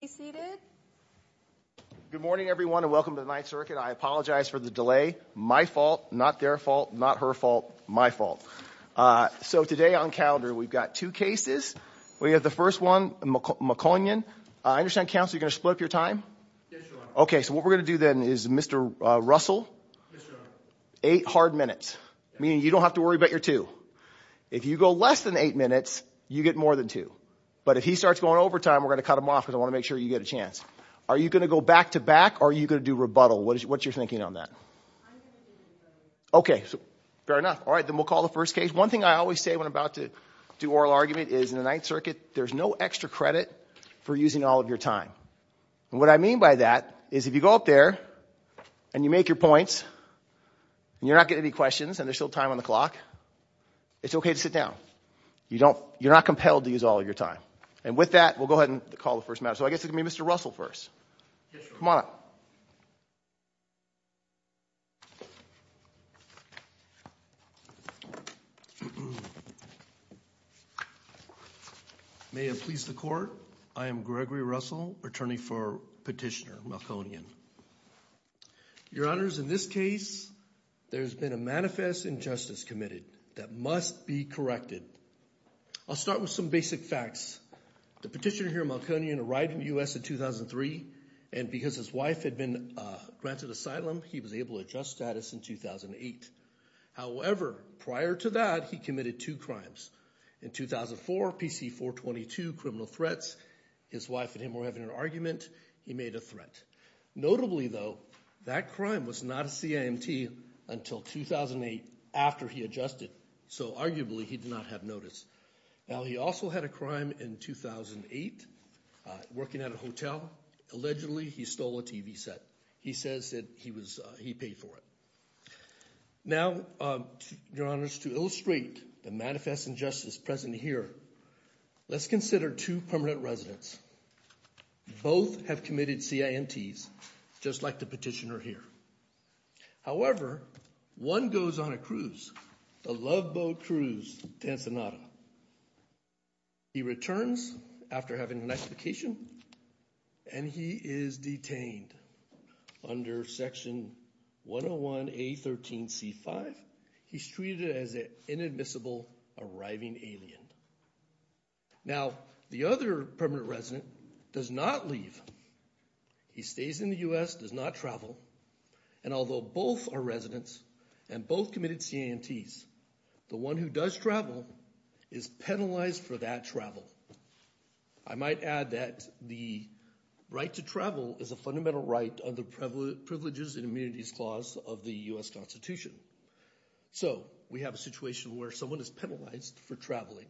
Good morning, everyone, and welcome to the Ninth Circuit. I apologize for the delay. My fault, not their fault, not her fault, my fault. So today on calendar, we've got two cases. We have the first one, Malkonyan. I understand, counsel, you're going to split up your time? Yes, Your Honor. Okay, so what we're going to do then is Mr. Russell, eight hard minutes, meaning you don't have to worry about your two. If you go less than eight minutes, you get more than two. But if he starts going over time, we're going to cut him off because I want to make sure you get a chance. Are you going to go back-to-back or are you going to do rebuttal? What's your thinking on that? Okay, fair enough. All right, then we'll call the first case. One thing I always say when I'm about to do oral argument is in the Ninth Circuit, there's no extra credit for using all of your time. And what I mean by that is if you go up there and you make your points and you're not getting any questions and there's still time on the clock, it's okay to sit down. You're not compelled to use all of your time. And with that, we'll go ahead and call the first matter. So I guess it's going to be Mr. Russell first. Yes, Your Honor. Come on up. May it please the Court, I am Gregory Russell, attorney for Petitioner Malconian. Your Honors, in this case, there's been a manifest injustice committed that must be corrected. I'll start with some basic facts. The petitioner here, Malconian, arrived in the U.S. in 2003, and because his wife had been granted asylum, he was able to adjust status in 2008. However, prior to that, he committed two crimes. In 2004, PC-422, criminal threats. His wife and him were having an argument. He made a threat. Notably, though, that crime was not a CIMT until 2008 after he adjusted. So arguably, he did not have notice. Now, he also had a crime in 2008, working at a hotel. Allegedly, he stole a TV set. He says that he paid for it. Now, Your Honors, to illustrate the manifest injustice present here, let's consider two permanent residents. Both have committed CIMTs, just like the petitioner here. However, one goes on a cruise, the Love Boat Cruise to Ensenada. He returns after having a nice vacation, and he is detained under Section 101A13C5. He's treated as an inadmissible arriving alien. Now, the other permanent resident does not leave. He stays in the U.S., does not travel, and although both are residents and both committed CIMTs, the one who does travel is penalized for that travel. I might add that the right to travel is a fundamental right under Privileges and Immunities Clause of the U.S. Constitution. So we have a situation where someone is penalized for traveling.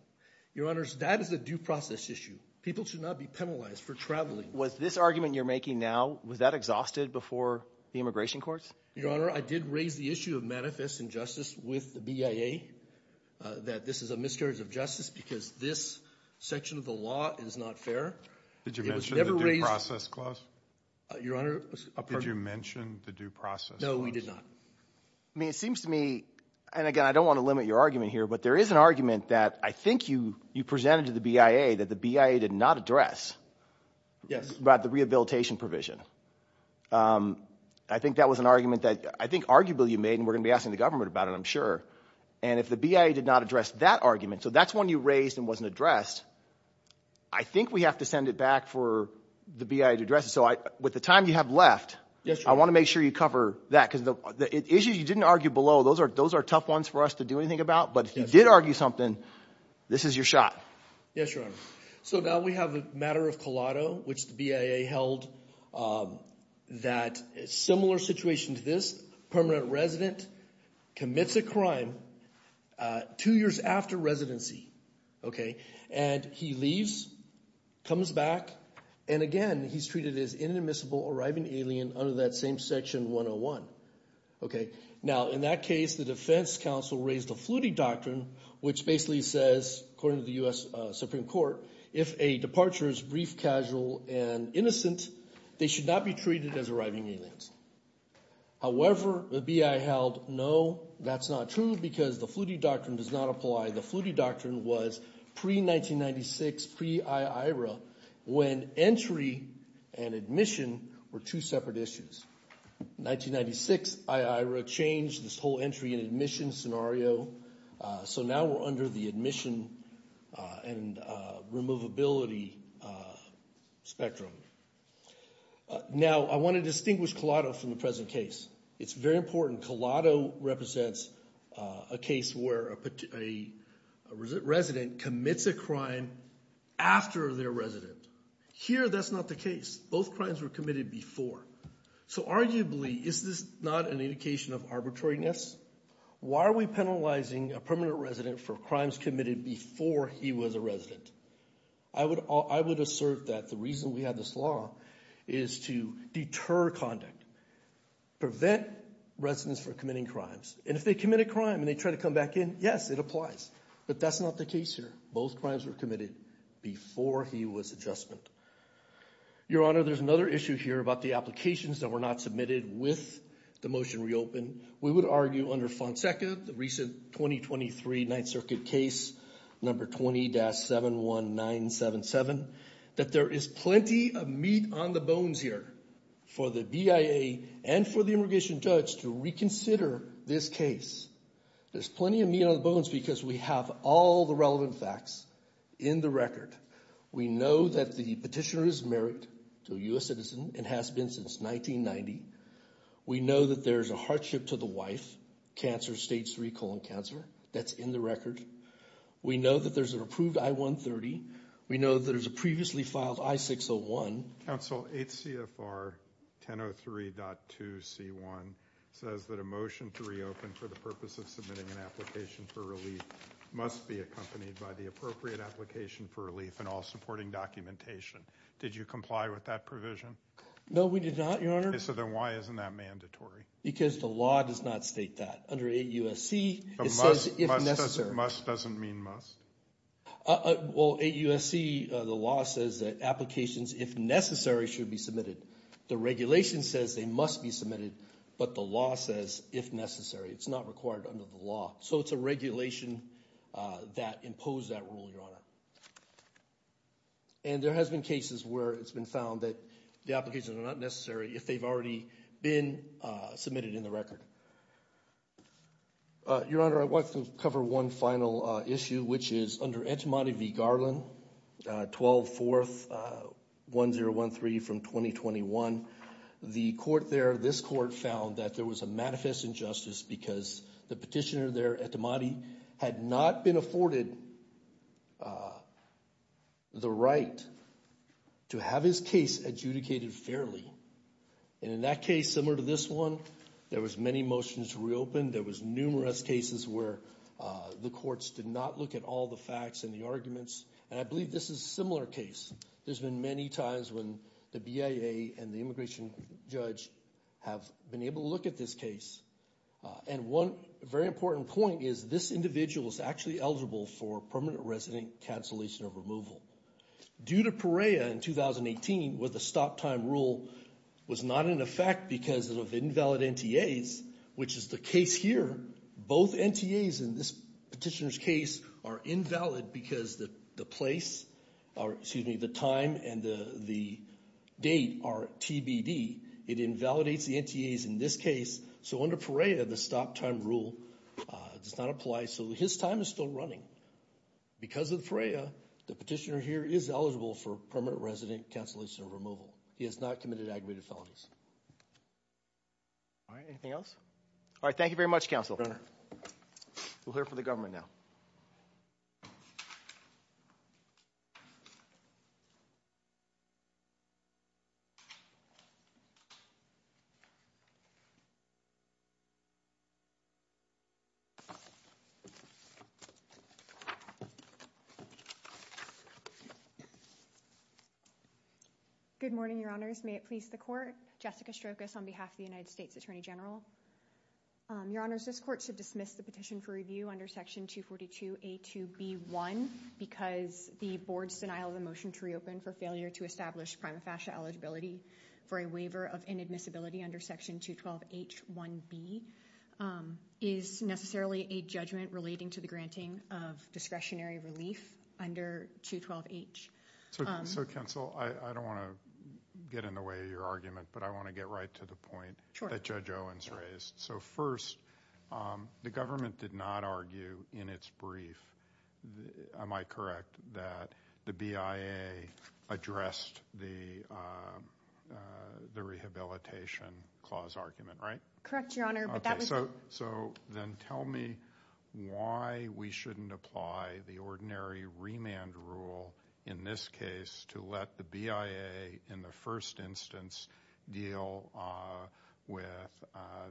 Your Honors, that is a due process issue. People should not be penalized for traveling. Was this argument you're making now, was that exhausted before the immigration courts? Your Honor, I did raise the issue of manifest injustice with the BIA that this is a miscarriage of justice because this section of the law is not fair. Did you mention the due process clause? No, we did not. I mean, it seems to me, and again, I don't want to limit your argument here, but there is an argument that I think you presented to the BIA that the BIA did not address about the rehabilitation provision. I think that was an argument that I think arguably you made, and we're going to be asking the government about it, I'm sure. And if the BIA did not address that argument, so that's one you raised and wasn't addressed, I think we have to send it back for the BIA to address it. So with the time you have left, I want to make sure you cover that because the issues you didn't argue below, those are tough ones for us to do anything about, but if you did argue something, this is your shot. Yes, Your Honor. So now we have the matter of collateral, which the BIA held that a similar situation to this, permanent resident commits a crime two years after residency, and he leaves, comes back, and again, he's treated as an inadmissible arriving alien under that same section 101. Now in that case, the defense counsel raised a fluity doctrine, which basically says, according to the U.S. Supreme Court, if a departure is brief, casual, and innocent, they should not be treated as arriving aliens. However, the BIA held, no, that's not true because the fluity doctrine does not apply. The fluity doctrine was pre-1996, pre-IIRA, when entry and admission were two separate issues. 1996, IIRA changed this whole entry and admission scenario, so now we're under the admission and removability spectrum. Now, I want to distinguish collateral from the present case. It's very important. Collateral represents a case where a resident commits a crime after they're resident. Here, that's not the case. Both crimes were committed before, so arguably, is this not an indication of arbitrariness? Why are we penalizing a permanent resident for crimes committed before he was a resident? I would assert that the reason we have this law is to deter conduct, prevent residents from committing crimes, and if they commit a crime and they try to come back in, yes, it applies, but that's not the case here. Both crimes were before he was adjustment. Your Honor, there's another issue here about the applications that were not submitted with the motion reopened. We would argue under Fonseca, the recent 2023 Ninth Circuit case, number 20-71977, that there is plenty of meat on the bones here for the BIA and for the immigration judge to reconsider this case. There's plenty of meat on the bones because we have all the relevant facts in the record. We know that the petitioner is married to a U.S. citizen and has been since 1990. We know that there's a hardship to the wife, cancer, stage 3 colon cancer, that's in the record. We know that there's an approved I-130. We know that there's a previously filed I-601. Counsel, 8 CFR 1003.2 C1 says that a motion to reopen for the purpose of submitting an application for relief must be accompanied by the appropriate application for relief and all supporting documentation. Did you comply with that provision? No, we did not, Your Honor. So then why isn't that mandatory? Because the law does not state that. Under 8 USC, it says if necessary. Must doesn't mean must? Well, 8 USC, the law says that applications, if necessary, should be submitted. The regulation says they must be submitted, but the law says if necessary. It's not required under the law. So it's a regulation that imposed that rule, Your Honor. And there has been cases where it's been found that the applications are not necessary if they've already been submitted in the record. Your Honor, I want to cover one final issue, which is under Entomology v. Garland, 12-4-1013 from 2021. The court there, this court found that there was a manifest injustice because the petitioner there, Etomadi, had not been afforded the right to have his case adjudicated fairly. And in that case, similar to this one, there was many motions reopened. There was numerous cases where the courts did not look at all the facts and the arguments. And I believe this is a similar case. There's been many times when the BIA and the immigration judge have been able to look at this case. And one very important point is this individual is actually eligible for permanent resident cancellation of removal. Due to Perea in 2018, where the stop time rule was not in effect because of invalid NTAs, which is the case here, both NTAs in this petitioner's case are invalid because the time and the date are TBD. It invalidates the NTAs in this case. So under Perea, the stop time rule does not apply. So his time is still running. Because of Perea, the petitioner here is eligible for permanent resident cancellation of removal. He has not committed aggravated felonies. All right. Anything else? All right. Thank you very much, counsel. We'll hear from the government now. Good morning, your honors. May it please the court. Jessica Strokas on behalf of the United States Attorney General. Your honors, this court should dismiss the petition for review under Section 242A2B1 because the board's denial of the motion to reopen for failure to establish prima facie eligibility for a waiver of inadmissibility under Section 212H1B is necessarily a judgment relating to the granting of discretionary relief under 212H. So counsel, I don't want to get in the way of your argument, but I want to get right to the point that Judge Owens raised. So first, the government did not argue in its brief, am I correct, that the BIA addressed the rehabilitation clause argument, right? Correct, your honor. So then tell me why we shouldn't apply the ordinary remand rule in this case to let the BIA in the first instance deal with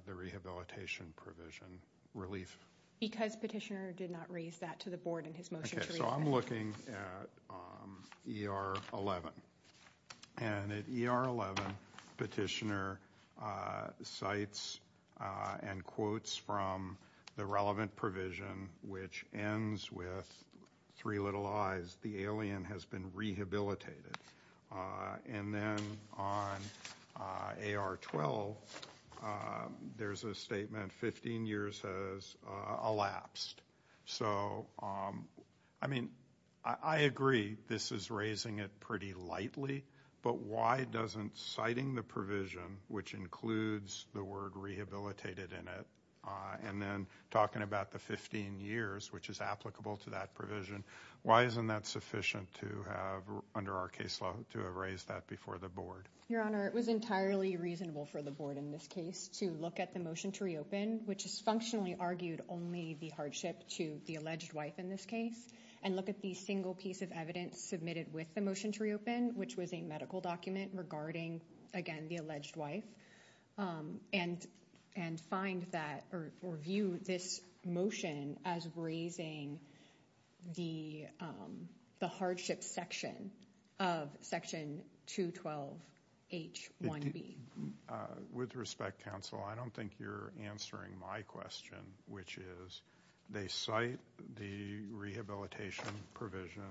the rehabilitation provision relief? Because petitioner did not raise that to the board in his motion. Okay, so I'm looking at ER11 and at ER11 petitioner cites and quotes from the relevant provision which ends with three little I's, the alien has been rehabilitated. And then on AR12, there's a statement 15 years has elapsed. So I mean, I agree this is raising it pretty lightly, but why doesn't citing the provision, which includes the word rehabilitated in it, and then talking about the 15 years, which is applicable to that provision, why isn't that sufficient to have under our case law to have raised that before the board? Your honor, it was entirely reasonable for the board in this case to look at the motion to reopen, which is functionally argued only the hardship to the alleged wife in this case, and look at the single piece of evidence submitted with the motion to reopen, which was a medical document regarding, again, the alleged wife, and find that or view this motion as raising the hardship section of section 212H1B. With respect, counsel, I don't think you're answering my question, which is they cite the rehabilitation provision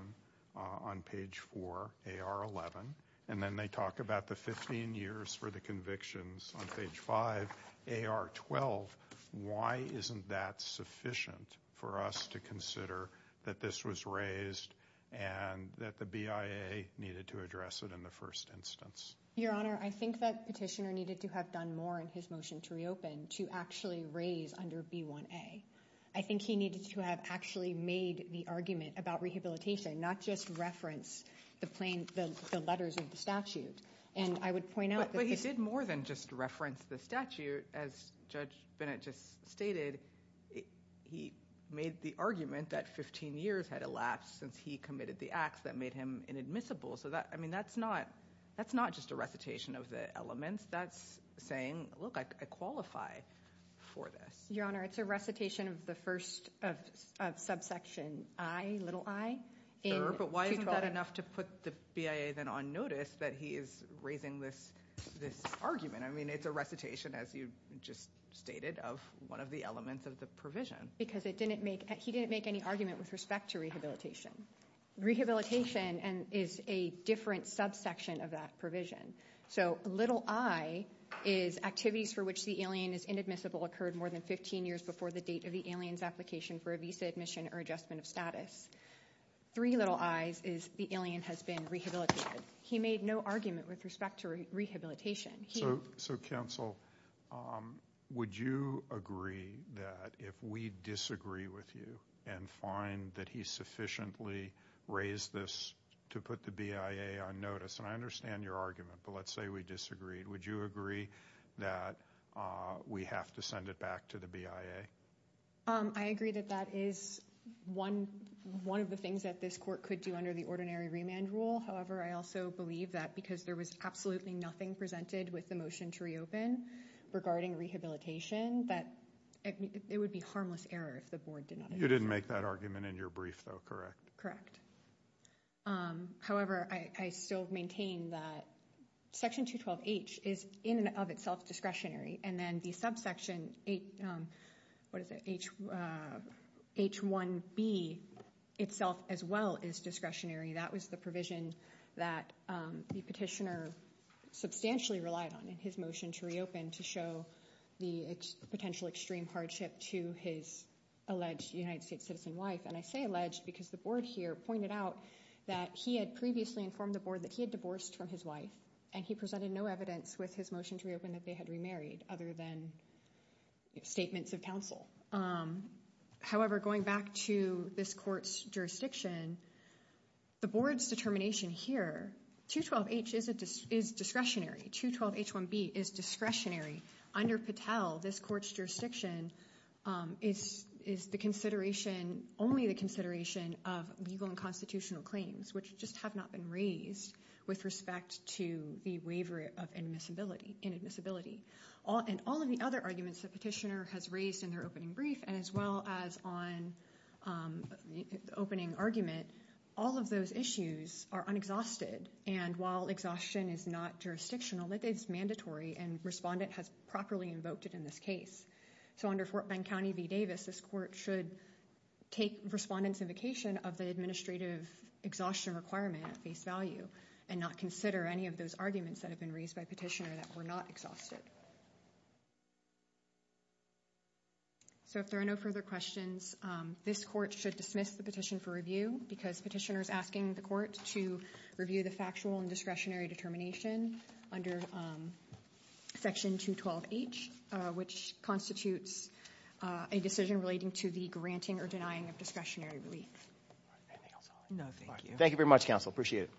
on page 4, AR11, and then they talk about the 15 years for the convictions on page 5, AR12. Why isn't that sufficient for us to consider that this was raised and that the BIA needed to address it in the first instance? Your honor, I think that petitioner needed to have done more in his motion to reopen to actually raise under B1A. I think he needed to have actually made the argument about rehabilitation, not just reference the letters of the statute, and I would point out- But he did more than just reference the statute. As Judge Bennett just stated, he made the argument that 15 years had elapsed since he committed the acts that made him inadmissible. That's not just a recitation of the elements. That's saying, look, I qualify for this. Your honor, it's a recitation of the first subsection I, little I. Sure, but why isn't that enough to put the BIA then on notice that he is raising this argument? I mean, it's a recitation, as you just stated, of one of the elements of the provision. Because he didn't make any argument with respect to rehabilitation. Rehabilitation is a different subsection of that provision. So little I is activities for which the alien is inadmissible occurred more than 15 years before the date of the alien's application for a visa admission or adjustment of status. Three little I's is the alien has been rehabilitated. He made no argument with respect to rehabilitation. So counsel, would you agree that if we disagree with you and find that he sufficiently raised this to put the BIA on notice, and I understand your argument, but let's say we disagree, would you agree that we have to send it back to the BIA? I agree that that is one of the things that this court could do under the ordinary remand rule. However, I also believe that because there was absolutely nothing presented with the motion to reopen regarding rehabilitation, that it would be harmless error if the board did not. You didn't make that argument in your brief, though, correct? Correct. However, I still maintain that Section 212H is in and of itself discretionary. And then the subsection, what is it, H1B itself as well is discretionary. That was the provision that the petitioner substantially relied on in his motion to reopen to show the potential extreme hardship to his alleged United States citizen wife. And I say alleged because the board here pointed out that he had previously informed the board that he had divorced from his wife, and he presented no evidence with his motion to reopen that they had remarried other than statements of counsel. However, going back to this court's jurisdiction, the board's determination here, 212H is discretionary. 212H1B is discretionary. Under Patel, this court's jurisdiction is the consideration, only the consideration of legal and constitutional claims, which just have not been raised with respect to the waiver of inadmissibility. And all of the other arguments the petitioner has raised in their opening brief, and as well as on the opening argument, all of those issues are unexhausted. And while exhaustion is not jurisdictional, it is mandatory and respondent has properly invoked it in this case. So under Fort Bend County v. Davis, this court should take respondent's invocation of the administrative exhaustion requirement at face value and not consider any of those arguments that have been raised by petitioner that were not exhausted. So if there are no further questions, this court should dismiss the petition for review because petitioner is asking the court to review the factual and discretionary determination under section 212H, which constitutes a decision relating to the granting or denying of discretionary relief. All right, anything else? No, thank you. Thank you very much, counsel. Appreciate it.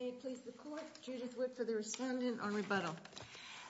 May it please the court, Judith Witt for the respondent on rebuttal.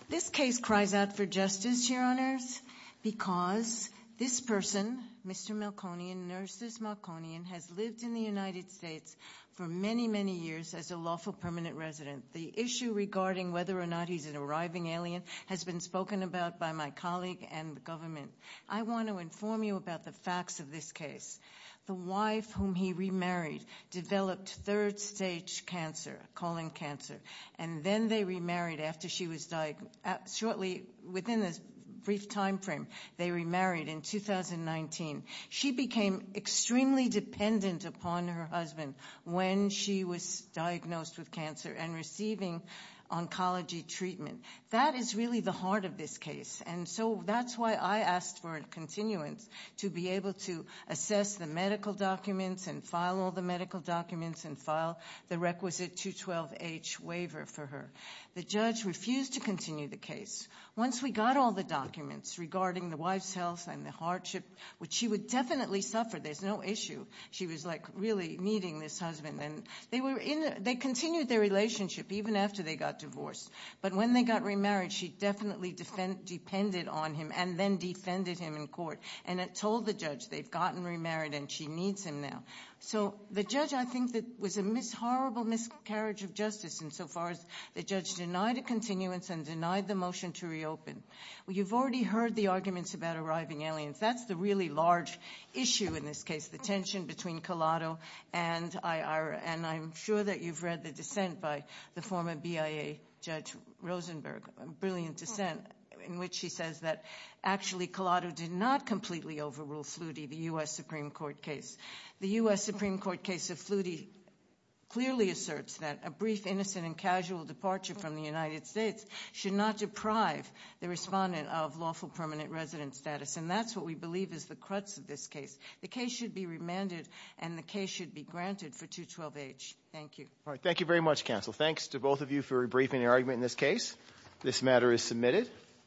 This case cries out for justice, Your Honors, because this person, Mr. Malkonian, Nurses Malkonian, has lived in the United States for many, many years as a lawful permanent resident. The issue regarding whether or not he's an arriving alien has been spoken about by my colleague and the government. I want to inform you about the facts of this case. The wife whom he remarried developed third stage cancer, colon cancer, and then they remarried after she was diagnosed, shortly within this brief time frame, they remarried in 2019. She became extremely dependent upon her husband when she was diagnosed with cancer and receiving oncology treatment. That is really the heart of this case, and so that's why I asked for a continuance to be able to assess the medical documents and file all the medical documents and file the requisite 212H waiver for her. The judge refused to continue the case. Once we got all the issue, she was like really needing this husband. They continued their relationship even after they got divorced, but when they got remarried, she definitely depended on him and then defended him in court and told the judge they've gotten remarried and she needs him now. The judge, I think, was a horrible miscarriage of justice insofar as the judge denied a continuance and denied the motion to reopen. You've already heard the arguments about arriving aliens. That's the large issue in this case, the tension between Collado and Ira. I'm sure that you've read the dissent by the former BIA Judge Rosenberg, a brilliant dissent, in which she says that actually Collado did not completely overrule Flutie, the U.S. Supreme Court case. The U.S. Supreme Court case of Flutie clearly asserts that a brief, innocent, and casual departure from the United States should not deprive the respondent of lawful permanent resident status. That's what we believe is the crux of this case. The case should be remanded and the case should be granted for 212-H. Thank you. All right, thank you very much, counsel. Thanks to both of you for rebriefing the argument in this case. This matter is submitted.